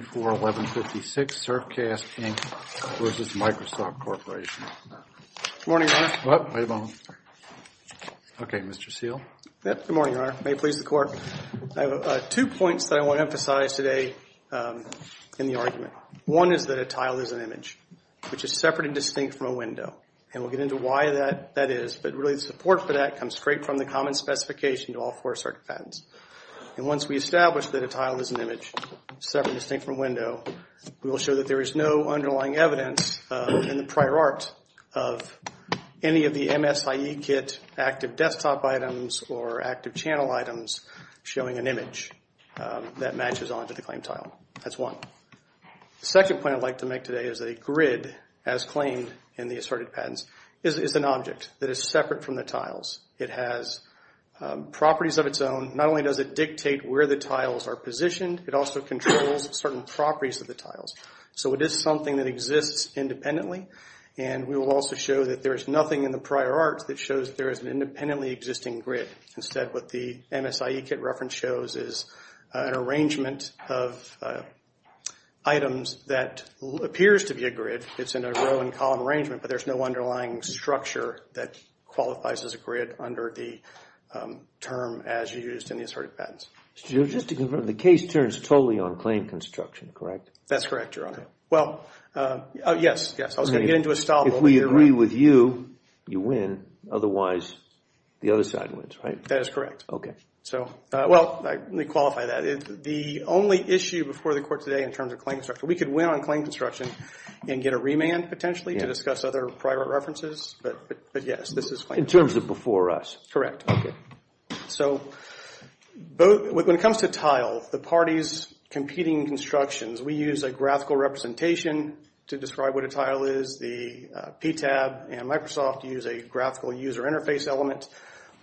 Good morning, Your Honor. May it please the Court. I have two points that I want to emphasize today in the argument. One is that a tile is an image, which is separate and distinct from a window. And we'll get into why that is, but really the support for that comes straight from the common specification to all four circuit patents. And once we establish that a tile is an image, separate and distinct from a window, we will show that there is no underlying evidence in the prior art of any of the MSIE kit active desktop items or active channel items showing an image that matches onto the claimed tile. That's one. The second point I'd like to make today is that a grid, as claimed in the asserted patents, is an object that is separate from the tiles. It has properties of its own. Not only does it dictate where the tiles are positioned, it also controls certain properties of the tiles. So it is something that exists independently, and we will also show that there is nothing in the prior art that shows that there is an independently existing grid. Instead, what the MSIE kit reference shows is an arrangement of items that appears to be a grid. It's in a row and column arrangement, but there's no underlying structure that qualifies as a grid under the term as used in the asserted patents. So just to confirm, the case turns totally on claim construction, correct? That's correct, Your Honor. Well, yes, yes. I was going to get into a style, but we'll be right. If we agree with you, you win. Otherwise, the other side wins, right? That is correct. Okay. So, well, let me qualify that. The only issue before the Court today in terms of claim construction, we could win on claim construction and get a remand potentially to discuss other prior art references, but yes, this is claimed. In terms of before us. So when it comes to tile, the parties competing constructions, we use a graphical representation to describe what a tile is. The PTAB and Microsoft use a graphical user interface element,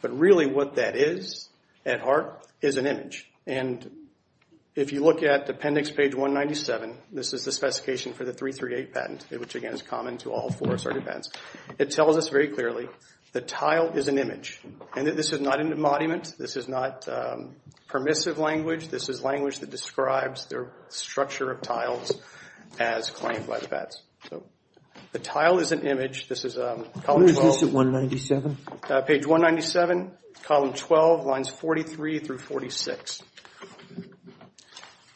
but really what that is at heart is an image, and if you look at appendix page 197, this is the specification for the 338 patent, which, again, is common to all four asserted patents. It tells us very clearly the tile is an image, and this is not an embodiment. This is not permissive language. This is language that describes their structure of tiles as claimed by the pats. So the tile is an image. This is column 12. What is this at 197? Page 197, column 12, lines 43 through 46.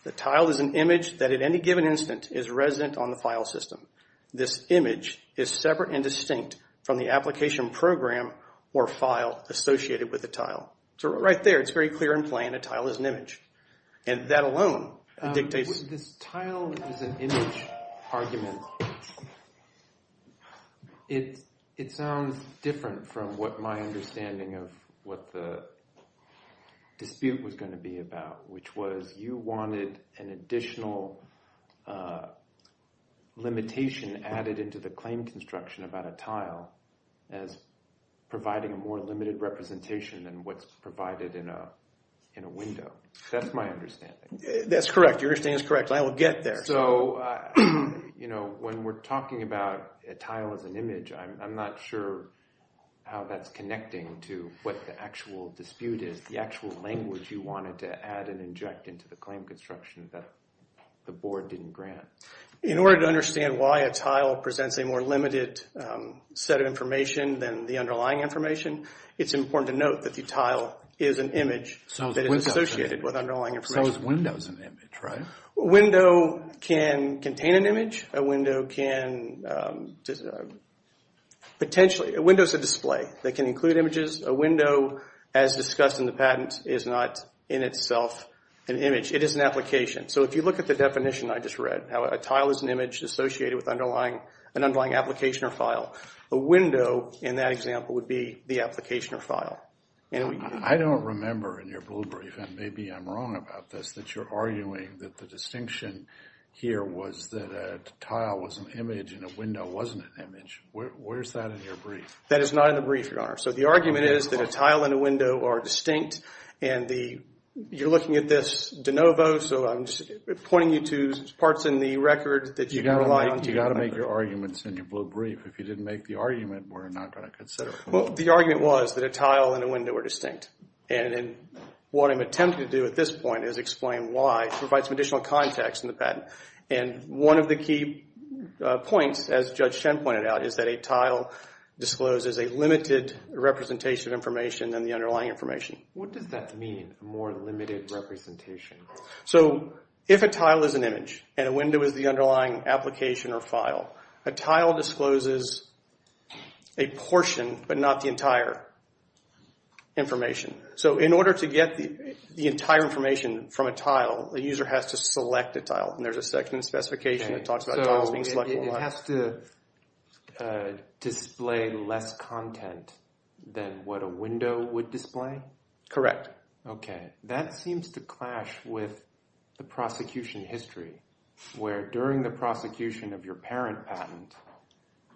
The tile is an image that at any given instant is resident on the file system. This image is separate and distinct from the application program or file associated with the tile. So right there, it's very clear and plain, a tile is an image, and that alone dictates. This tile is an image argument. It sounds different from what my understanding of what the dispute was going to be about, which was you wanted an additional limitation added into the claim construction about a tile as providing a more limited representation than what's provided in a window. That's my understanding. That's correct. Your understanding is correct. I will get there. So, you know, when we're talking about a tile as an image, I'm not sure how that's connecting to what the actual dispute is, the actual language you wanted to add and inject into the claim construction that the board didn't grant. In order to understand why a tile presents a more limited set of information than the underlying information, it's important to note that the tile is an image that is associated with underlying information. So is a window an image, right? A window can contain an image. A window is a display that can include images. A window, as discussed in the patent, is not in itself an image. It is an application. So if you look at the definition I just read, how a tile is an image associated with an underlying application or file, a window in that example would be the application or file. I don't remember in your blue brief, and maybe I'm wrong about this, that you're arguing that the distinction here was that a tile was an image and a window wasn't an image. Where's that in your brief? That is not in the brief, Your Honor. So the argument is that a tile and a window are distinct, and you're looking at this de novo, so I'm just pointing you to parts in the record that you can rely on. You've got to make your arguments in your blue brief. If you didn't make the argument, we're not going to consider it. Well, the argument was that a tile and a window are distinct, and what I'm attempting to do at this point is explain why, provide some additional context in the patent. And one of the key points, as Judge Chen pointed out, is that a tile discloses a limited representation of information than the underlying information. What does that mean, a more limited representation? So if a tile is an image and a window is the underlying application or file, a tile discloses a portion but not the entire information. So in order to get the entire information from a tile, a user has to select a tile. And there's a section in the specification that talks about tiles being selected. So it has to display less content than what a window would display? Correct. Okay. That seems to clash with the prosecution history, where during the prosecution of your parent patent,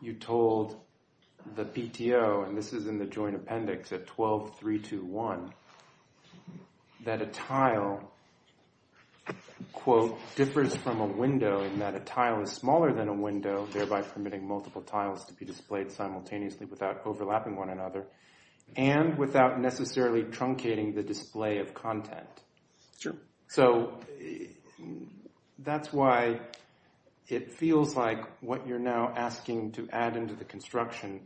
you told the PTO, and this is in the joint appendix at 12.321, that a tile, quote, differs from a window in that a tile is smaller than a window, thereby permitting multiple tiles to be displayed simultaneously without overlapping one another, and without necessarily truncating the display of content. Sure. So that's why it feels like what you're now asking to add into the construction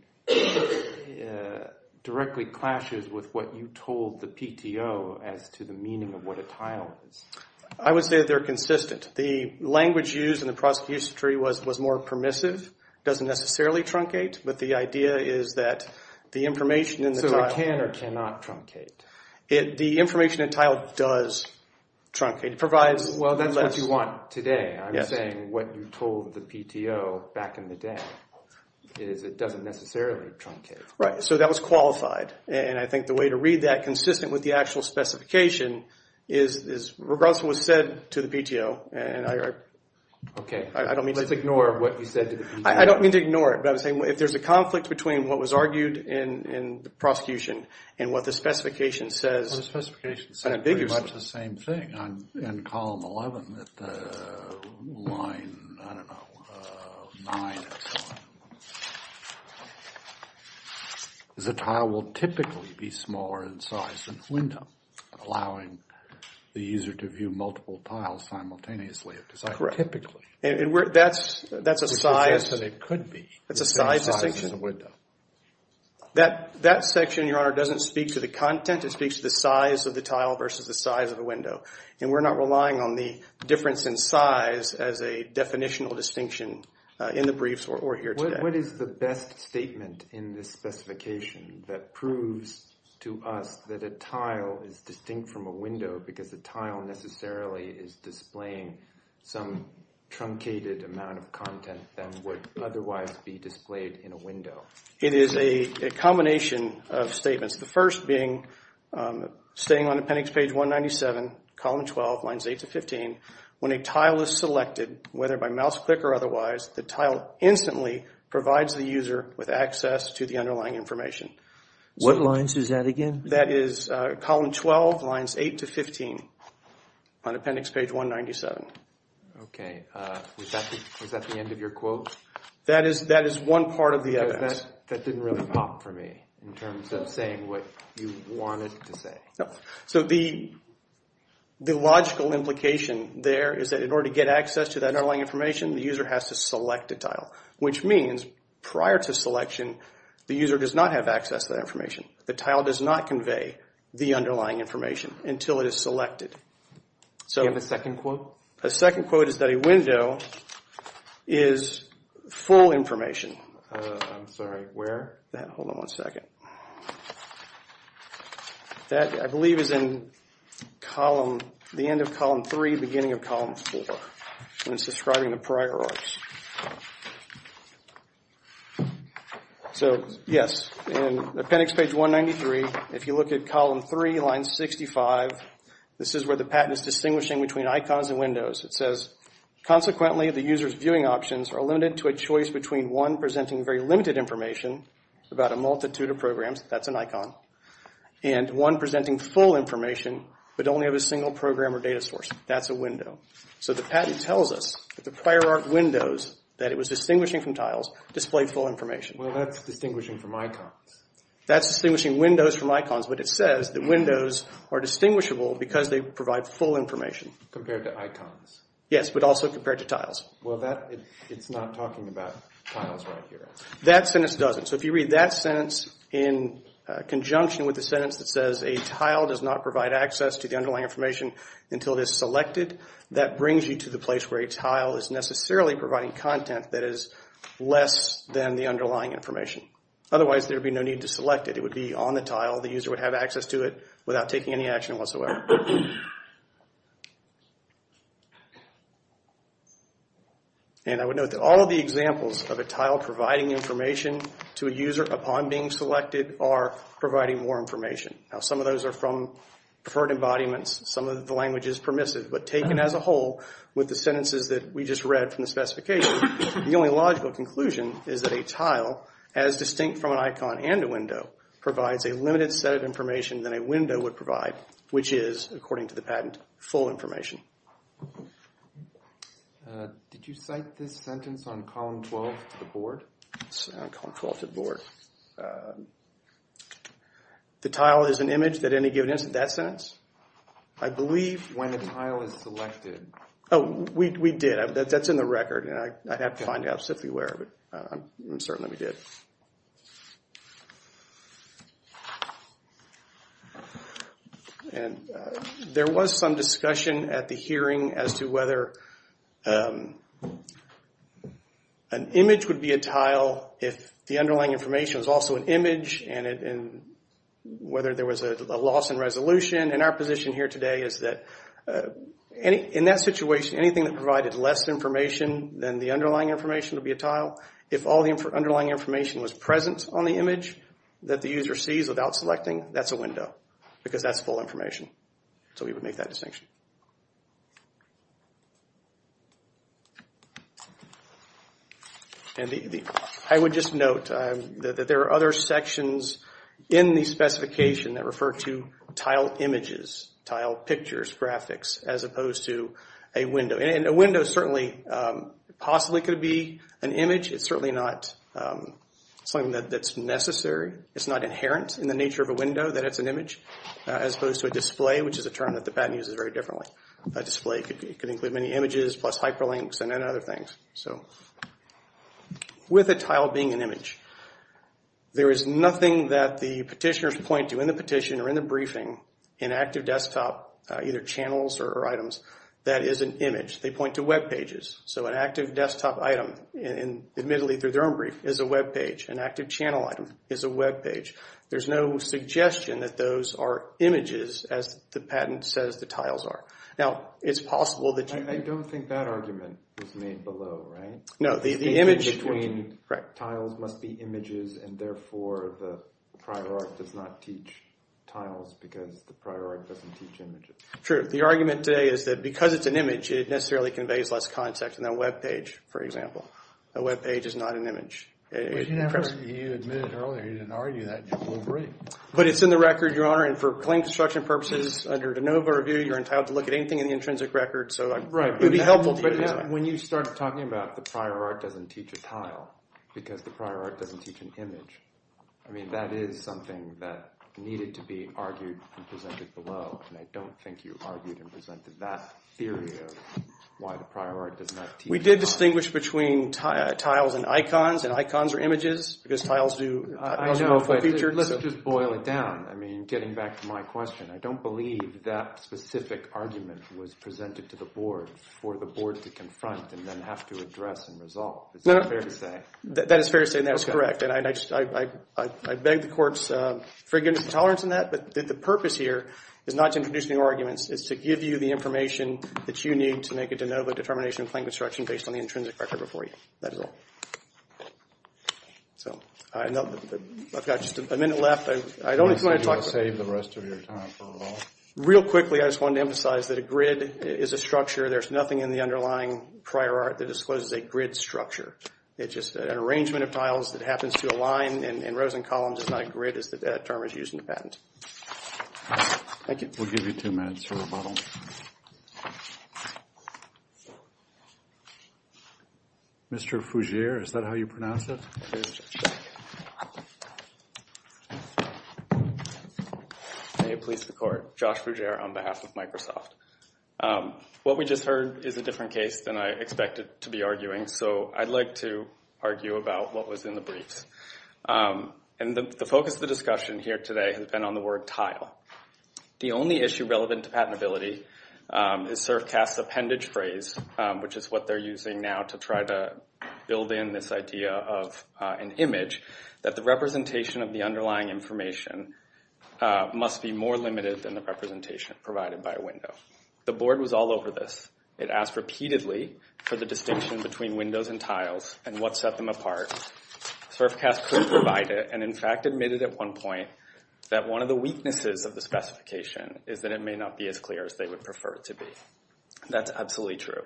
directly clashes with what you told the PTO as to the meaning of what a tile is. I would say they're consistent. The language used in the prosecution history was more permissive, doesn't necessarily truncate, but the idea is that the information in the tile. So it can or cannot truncate? The information in tile does truncate. Well, that's what you want today. I'm saying what you told the PTO back in the day is it doesn't necessarily truncate. Right. So that was qualified. And I think the way to read that, consistent with the actual specification, is regardless of what was said to the PTO. Okay. Let's ignore what you said to the PTO. I don't mean to ignore it, but I was saying if there's a conflict between what was argued in the prosecution and what the specification says. The specification said pretty much the same thing in column 11 at line, I don't know, 9. The tile will typically be smaller in size than the window, allowing the user to view multiple tiles simultaneously. Correct. And that's a size. It could be. That's a size distinction. That section, Your Honor, doesn't speak to the content. It speaks to the size of the tile versus the size of the window. And we're not relying on the difference in size as a definitional distinction in the briefs or here today. What is the best statement in this specification that proves to us that a tile is distinct from a window because the tile necessarily is displaying some truncated amount of content that would otherwise be displayed in a window? It is a combination of statements. The first being, staying on appendix page 197, column 12, lines 8 to 15, when a tile is selected, whether by mouse click or otherwise, the tile instantly provides the user with access to the underlying information. What lines is that again? That is column 12, lines 8 to 15 on appendix page 197. Okay. Was that the end of your quote? That is one part of the evidence. That didn't really pop for me in terms of saying what you wanted to say. No. So the logical implication there is that in order to get access to that underlying information, the user has to select a tile, which means prior to selection, the user does not have access to that information. The tile does not convey the underlying information until it is selected. Do you have a second quote? A second quote is that a window is full information. I'm sorry, where? Hold on one second. That, I believe, is in the end of column 3, beginning of column 4. It's describing the priorities. So, yes. In appendix page 193, if you look at column 3, line 65, this is where the patent is distinguishing between icons and windows. It says, consequently, the user's viewing options are limited to a choice between one presenting very limited information about a multitude of programs, that's an icon, and one presenting full information but only of a single program or data source. That's a window. So the patent tells us that the prior art windows, that it was distinguishing from tiles, displayed full information. Well, that's distinguishing from icons. That's distinguishing windows from icons, but it says that windows are distinguishable because they provide full information. Compared to icons. Yes, but also compared to tiles. Well, it's not talking about tiles right here. That sentence doesn't. So if you read that sentence in conjunction with the sentence that says, a tile does not provide access to the underlying information until it is selected, that brings you to the place where a tile is necessarily providing content that is less than the underlying information. Otherwise, there would be no need to select it. It would be on the tile. The user would have access to it without taking any action whatsoever. And I would note that all of the examples of a tile providing information to a user upon being selected are providing more information. Now, some of those are from preferred embodiments. Some of the language is permissive, but taken as a whole with the sentences that we just read from the specification, the only logical conclusion is that a tile, as distinct from an icon and a window, provides a limited set of information than a window would provide, which is, according to the patent, full information. Did you cite this sentence on column 12 to the board? It's on column 12 to the board. The tile is an image that any given instance. That sentence, I believe. When the tile is selected. Oh, we did. That's in the record, and I'd have to find out simply where, but I'm certain that we did. There was some discussion at the hearing as to whether an image would be a tile if the underlying information was also an image, and whether there was a loss in resolution. And our position here today is that in that situation, anything that provided less information than the underlying information would be a tile. If all the underlying information was present on the image that the user sees without selecting, that's a window because that's full information. So we would make that distinction. And I would just note that there are other sections in the specification that refer to tile images, tile pictures, graphics, as opposed to a window. And a window certainly possibly could be an image. It's certainly not something that's necessary. It's not inherent in the nature of a window that it's an image, as opposed to a display, which is a term that the patent uses very differently. A display could include many images plus hyperlinks and other things. So with a tile being an image, there is nothing that the petitioners point to in the petition or in the briefing in Active Desktop, either channels or items, that is an image. They point to web pages. So an Active Desktop item, admittedly through their own brief, is a web page. An Active Channel item is a web page. There's no suggestion that those are images, as the patent says the tiles are. Now, it's possible that you… I don't think that argument was made below, right? No, the image… Between tiles must be images, and therefore the prior art does not teach tiles because the prior art doesn't teach images. True. The argument today is that because it's an image, it necessarily conveys less context than a web page, for example. A web page is not an image. You admitted earlier you didn't argue that. We'll agree. But it's in the record, Your Honor, and for claim construction purposes, under de novo review, you're entitled to look at anything in the intrinsic record. So it would be helpful… Right, but when you start talking about the prior art doesn't teach a tile because the prior art doesn't teach an image, I mean, that is something that needed to be argued and presented below, and I don't think you argued and presented that theory of why the prior art does not teach a tile. We did distinguish between tiles and icons, and icons are images because tiles do… I know, but let's just boil it down. I mean, getting back to my question, I don't believe that specific argument was presented to the board for the board to confront and then have to address and resolve. Is that fair to say? That is fair to say, and that is correct, and I beg the court's forgiveness and tolerance in that, but the purpose here is not to introduce new arguments. It's to give you the information that you need to make a de novo determination in claim construction based on the intrinsic record before you. That is all. So I've got just a minute left. I don't want to talk… You want to save the rest of your time for it all? Real quickly, I just wanted to emphasize that a grid is a structure. There's nothing in the underlying prior art that discloses a grid structure. It's just an arrangement of tiles that happens to align in rows and columns. It's not a grid as that term is used in the patent. Thank you. We'll give you two minutes for rebuttal. Mr. Fougere, is that how you pronounce it? May it please the court. Josh Fougere on behalf of Microsoft. What we just heard is a different case than I expected to be arguing, so I'd like to argue about what was in the briefs. And the focus of the discussion here today has been on the word tile. The only issue relevant to patentability is Servcast's appendage phrase, which is what they're using now to try to build in this idea of an image, that the representation of the underlying information must be more limited than the representation provided by a window. The board was all over this. It asked repeatedly for the distinction between windows and tiles and what set them apart. Servcast could provide it and, in fact, admitted at one point that one of the weaknesses of the specification is that it may not be as clear as they would prefer it to be. That's absolutely true.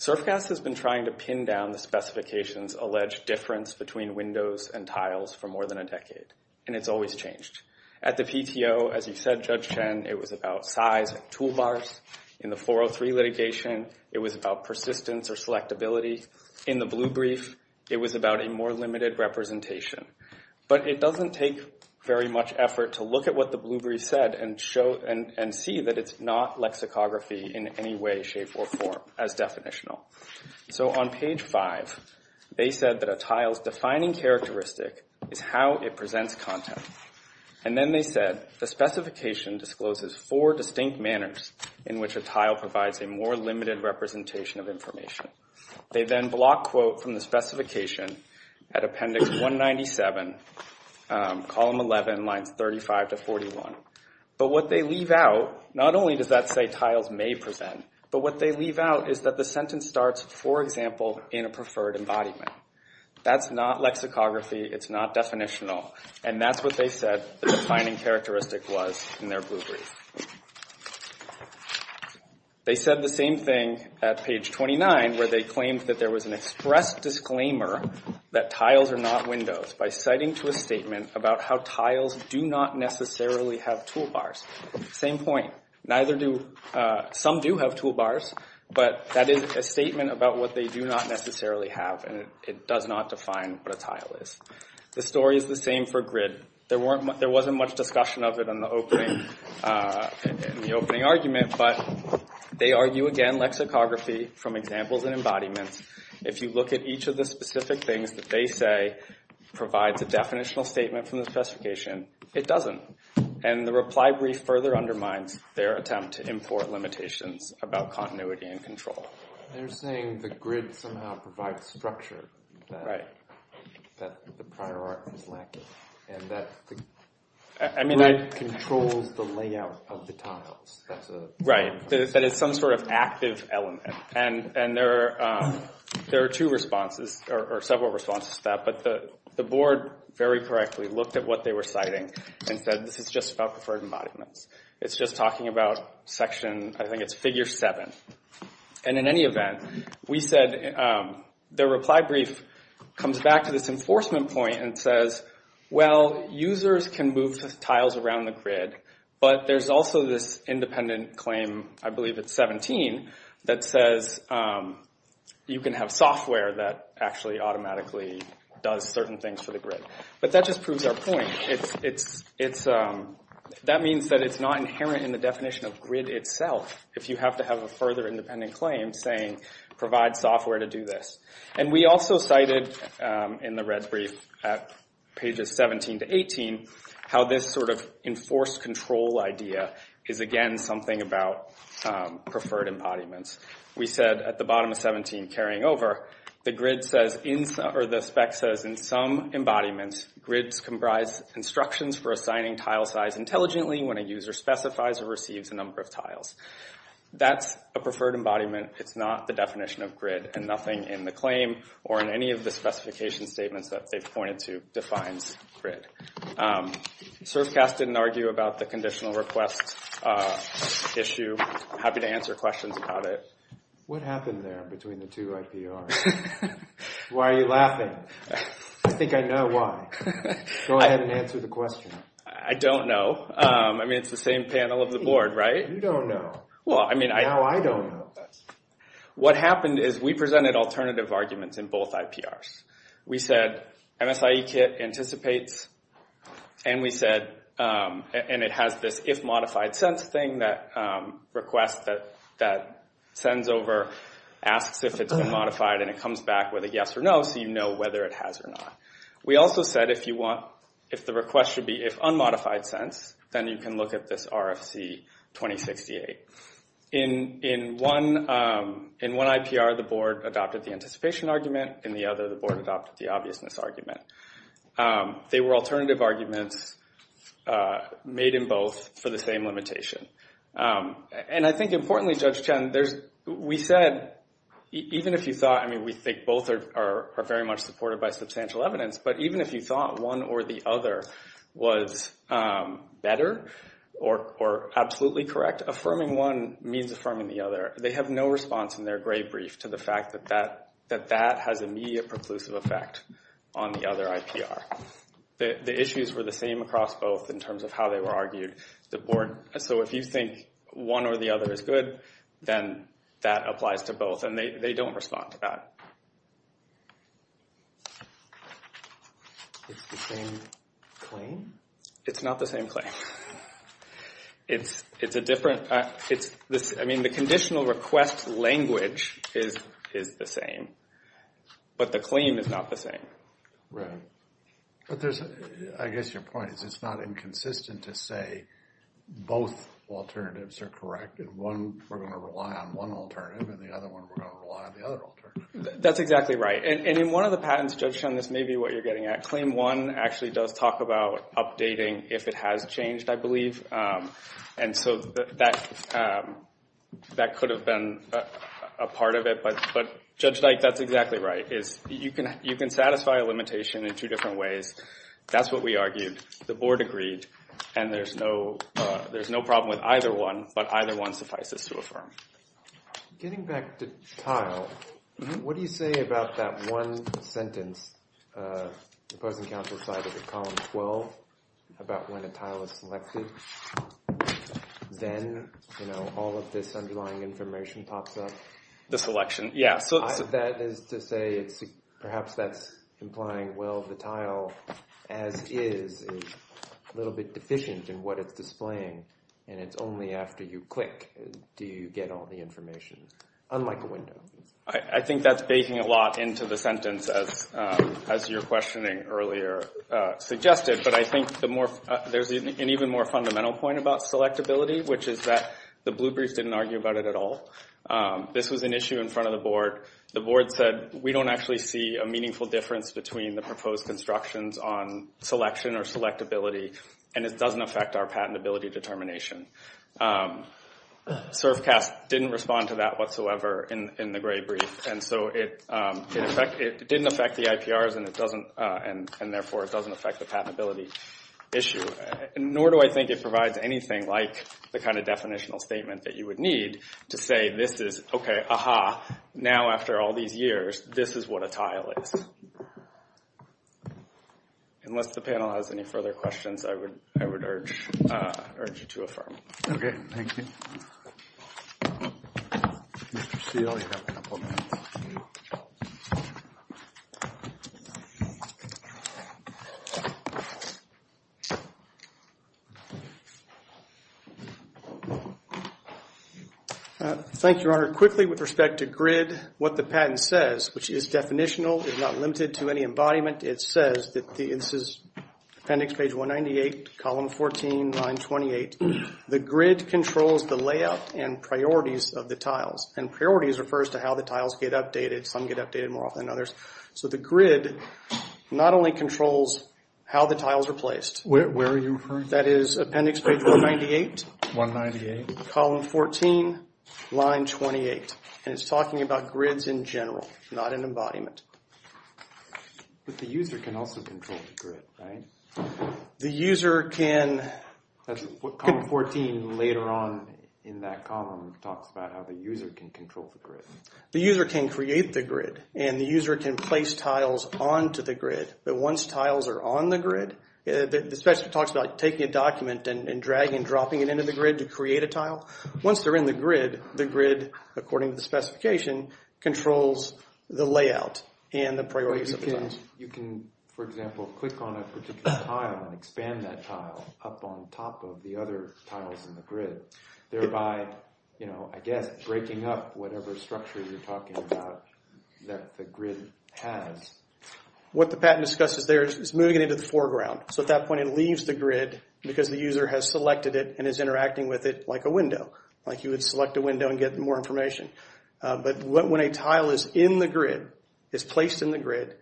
Servcast has been trying to pin down the specification's alleged difference between windows and tiles for more than a decade, and it's always changed. At the PTO, as you said, Judge Chen, it was about size and toolbars. In the 403 litigation, it was about persistence or selectability. In the blue brief, it was about a more limited representation. But it doesn't take very much effort to look at what the blue brief said and see that it's not lexicography in any way, shape, or form as definitional. So on page 5, they said that a tile's defining characteristic is how it presents content. And then they said the specification discloses four distinct manners in which a tile provides a more limited representation of information. They then block quote from the specification at appendix 197, column 11, lines 35 to 41. But what they leave out, not only does that say tiles may present, but what they leave out is that the sentence starts, for example, in a preferred embodiment. That's not lexicography. It's not definitional. And that's what they said the defining characteristic was in their blue brief. They said the same thing at page 29 where they claimed that there was an express disclaimer that tiles are not windows by citing to a statement about how tiles do not necessarily have toolbars. Same point. Some do have toolbars, but that is a statement about what they do not necessarily have, and it does not define what a tile is. The story is the same for grid. There wasn't much discussion of it in the opening argument, but they argue again lexicography from examples and embodiments if you look at each of the specific things that they say provides a definitional statement from the specification, it doesn't. And the reply brief further undermines their attempt to import limitations about continuity and control. They're saying the grid somehow provides structure that the prior art was lacking. And that the grid controls the layout of the tiles. Right. That it's some sort of active element. And there are two responses, or several responses to that, but the board very correctly looked at what they were citing and said this is just about preferred embodiments. It's just talking about section, I think it's figure 7. And in any event, we said their reply brief comes back to this enforcement point and says, well, users can move tiles around the grid, but there's also this independent claim, I believe it's 17, that says you can have software that actually automatically does certain things for the grid. But that just proves our point. That means that it's not inherent in the definition of grid itself if you have to have a further independent claim saying provide software to do this. And we also cited in the red brief at pages 17 to 18 how this sort of enforced control idea is again something about preferred embodiments. We said at the bottom of 17, carrying over, the grid says, or the spec says in some embodiments, grids comprise instructions for assigning tile size intelligently when a user specifies or receives a number of tiles. That's a preferred embodiment. It's not the definition of grid. And nothing in the claim or in any of the specification statements that they've pointed to defines grid. Servcast didn't argue about the conditional request issue. I'm happy to answer questions about it. What happened there between the two IPRs? Why are you laughing? I think I know why. Go ahead and answer the question. I don't know. I mean, it's the same panel of the board, right? You don't know. Well, I mean, I don't know. What happened is we presented alternative arguments in both IPRs. We said MSIE kit anticipates, and we said, and it has this if-modified-sense thing that requests that sends over, asks if it's been modified, and it comes back with a yes or no so you know whether it has or not. We also said if the request should be if-unmodified-sense, then you can look at this RFC 2068. In one IPR, the board adopted the anticipation argument. In the other, the board adopted the obviousness argument. They were alternative arguments made in both for the same limitation. And I think importantly, Judge Chen, we said even if you thought, I mean we think both are very much supported by substantial evidence, but even if you thought one or the other was better or absolutely correct, affirming one means affirming the other. They have no response in their gray brief to the fact that that has immediate preclusive effect on the other IPR. The issues were the same across both in terms of how they were argued. So if you think one or the other is good, then that applies to both, and they don't respond to that. It's the same claim? It's not the same claim. It's a different, I mean the conditional request language is the same, but the claim is not the same. Right. But I guess your point is it's not inconsistent to say both alternatives are correct, and one we're going to rely on one alternative, and the other one we're going to rely on the other alternative. That's exactly right. And in one of the patents, Judge Chen, this may be what you're getting at, but Claim 1 actually does talk about updating if it has changed, I believe. And so that could have been a part of it, but Judge Dyke, that's exactly right. You can satisfy a limitation in two different ways. That's what we argued. The Board agreed, and there's no problem with either one, but either one suffices to affirm. Getting back to tile, what do you say about that one sentence the opposing counsel cited in Column 12 about when a tile is selected, then all of this underlying information pops up? The selection, yeah. That is to say perhaps that's implying, well, the tile as is is a little bit deficient in what it's displaying, and it's only after you click do you get all the information, unlike a window. I think that's baking a lot into the sentence, as your questioning earlier suggested, but I think there's an even more fundamental point about selectability, which is that the Bluebriefs didn't argue about it at all. This was an issue in front of the Board. The Board said we don't actually see a meaningful difference between the proposed constructions on selection or selectability, and it doesn't affect our patentability determination. SERFCAS didn't respond to that whatsoever in the Gray Brief, and so it didn't affect the IPRs, and therefore it doesn't affect the patentability issue. Nor do I think it provides anything like the kind of definitional statement that you would need to say, okay, aha, now after all these years, this is what a tile is. Unless the panel has any further questions, I would urge you to affirm. Okay, thank you. Mr. Steele, you have a couple minutes. Thank you, Your Honor. Quickly, with respect to GRID, what the patent says, which is definitional, is not limited to any embodiment. It says that this is appendix page 198, column 14, line 28. The GRID controls the layout and priorities of the tiles, and priorities refers to how the tiles get updated. Some get updated more often than others. So the GRID not only controls how the tiles are placed. Where are you referring to? That is appendix page 198, column 14, line 28, and it's talking about GRIDs in general, not an embodiment. But the user can also control the GRID, right? The user can. That's what column 14 later on in that column talks about, how the user can control the GRID. The user can create the GRID, and the user can place tiles onto the GRID. But once tiles are on the GRID, the specialist talks about taking a document and dragging and dropping it into the GRID to create a tile. Once they're in the GRID, the GRID, according to the specification, controls the layout and the priorities of the tiles. You can, for example, click on a particular tile and expand that tile up on top of the other tiles in the GRID, thereby, I guess, breaking up whatever structure you're talking about that the GRID has. What the patent discusses there is moving it into the foreground. So at that point, it leaves the GRID because the user has selected it and is interacting with it like a window, like you would select a window and get more information. But when a tile is in the GRID, is placed in the GRID,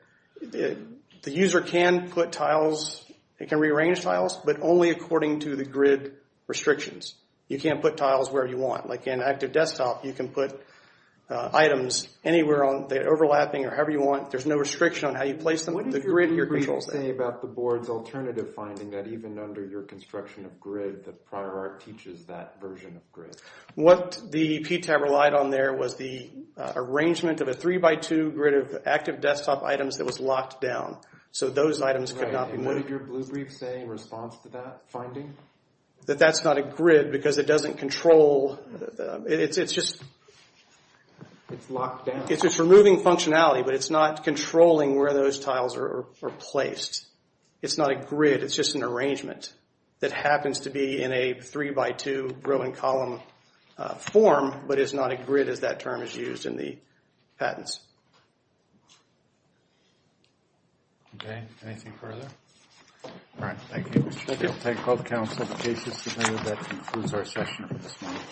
the user can put tiles. It can rearrange tiles, but only according to the GRID restrictions. You can't put tiles wherever you want. Like in Active Desktop, you can put items anywhere on the overlapping or however you want. There's no restriction on how you place them. The GRID here controls that. What did your report say about the board's alternative finding that even under your construction of GRID, the prior art teaches that version of GRID? What the PTAB relied on there was the arrangement of a 3x2 GRID of Active Desktop items that was locked down. So those items could not be moved. What did your blue brief say in response to that finding? That that's not a GRID because it doesn't control. It's just removing functionality, but it's not controlling where those tiles are placed. It's not a GRID. It's just an arrangement that happens to be in a 3x2 row and column form, but it's not a GRID as that term is used in the patents. Okay. Anything further? All right. Thank you. Thank you. That concludes our session for this morning.